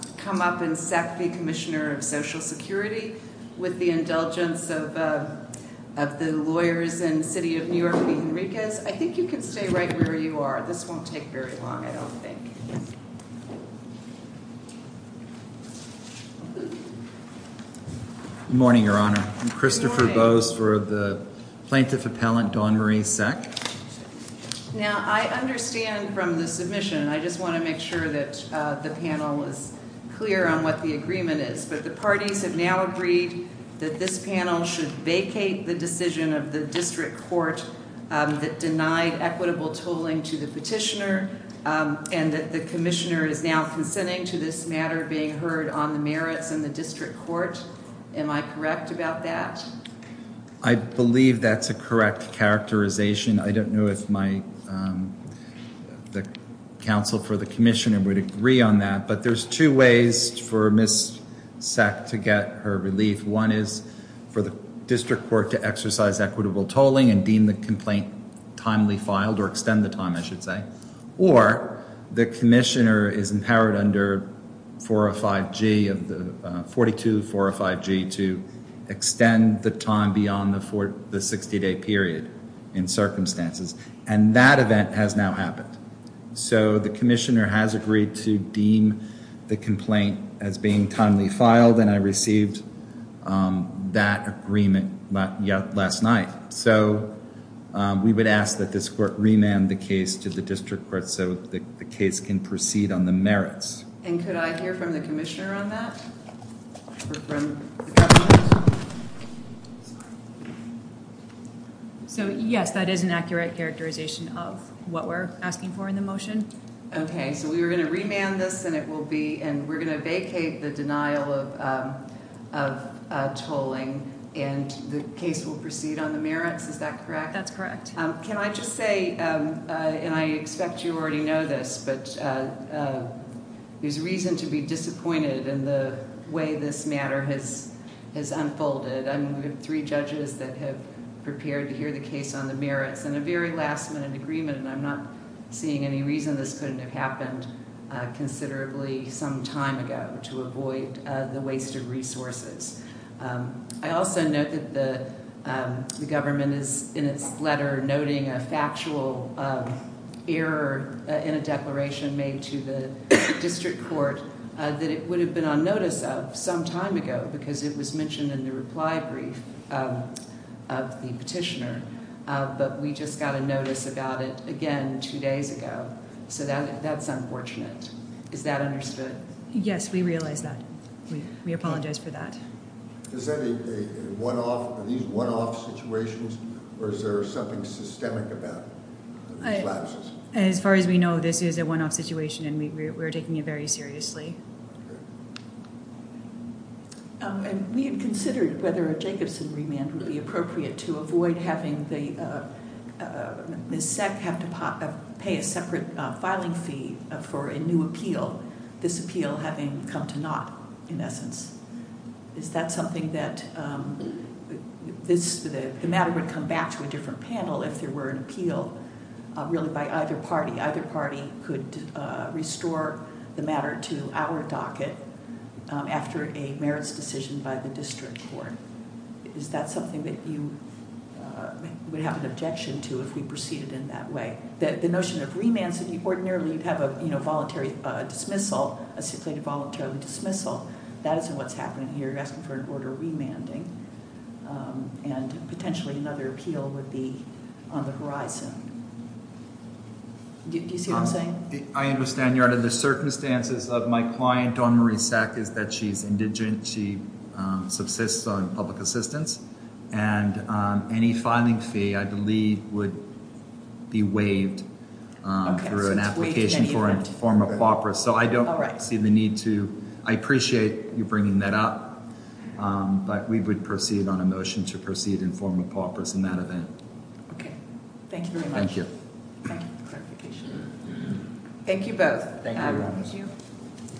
with the indulgence of the lawyers in the City of New York, I think you can stay right where you are. This won't take very long, I don't think. Good morning, Your Honor. I'm Christopher Bose for the Plaintiff Appellant, Dawn Marie Sech. Now, I understand from the submission, I just want to make sure that the panel is clear on what the agreement is, but the parties have now agreed that this panel should vacate the decision of the District Court that denied equitable tolling to the petitioner and that the Commissioner is now consenting to this matter being heard on the merits in the District Court. Am I correct about that? I believe that's a correct characterization. I don't know if the counsel for the Commissioner would agree on that, but there's two ways for Ms. Sech to get her relief. One is for the District Court to exercise equitable tolling and deem the complaint timely filed, or extend the time I should say, or the Commissioner is empowered under 405G, 42405G to extend the time beyond the 60-day period in circumstances, and that event has now happened. The Commissioner has agreed to deem the complaint as being timely filed, and I received that agreement last night. We would ask that this Court remand the case to the District Court so the case can proceed on the merits. Could I hear from the Commissioner on that? So yes, that is an accurate characterization of what we're asking for in the motion. Okay, so we're going to remand this, and we're going to vacate the denial of tolling, and the case will proceed on the merits, is that correct? That's correct. Can I just say, and I expect you already know this, but there's reason to be disappointed in the way this matter has unfolded. We have three judges that have prepared to hear the case on the merits, and a very last-minute agreement, and I'm not seeing any reason this couldn't have happened considerably some time ago to avoid the waste of resources. I also note that the government is in its letter noting a factual error in a declaration made to the District Court that it would have been on notice of some time ago, because it was mentioned in the reply brief of the petitioner, but we just got a notice about it again two days ago, so that's unfortunate. Is that understood? Yes, we realize that. We apologize for that. Is that a one-off, are these one-off situations, or is there something systemic about these lapses? As far as we know, this is a one-off situation and we're taking it very seriously. We had considered whether a Jacobson remand would be appropriate to avoid having the SEC have to pay a separate filing fee for a new appeal, this appeal having come to naught, in essence. Is that something that, the matter would come back to a different panel if there were an appeal, really by either party. Either party could restore the matter to our docket after a merits decision by the District Court. Is that something that you would have an objection to if we proceeded in that way? The notion of remands, ordinarily you'd have a voluntary dismissal, a stipulated voluntary dismissal, that isn't what's happening here, you're asking for an order of remanding, and potentially another appeal would be on the horizon. Do you see what I'm saying? I understand, Your Honor, the circumstances of my client, Dawn Marie Sack, is that she's indigent, she subsists on public assistance, and any filing fee, I believe, would be waived through an application for a form of co-operative, so I don't see the need to, I appreciate you bringing that up, but we would proceed on a motion to proceed in form of co-operative in that event. Thank you very much. Thank you both.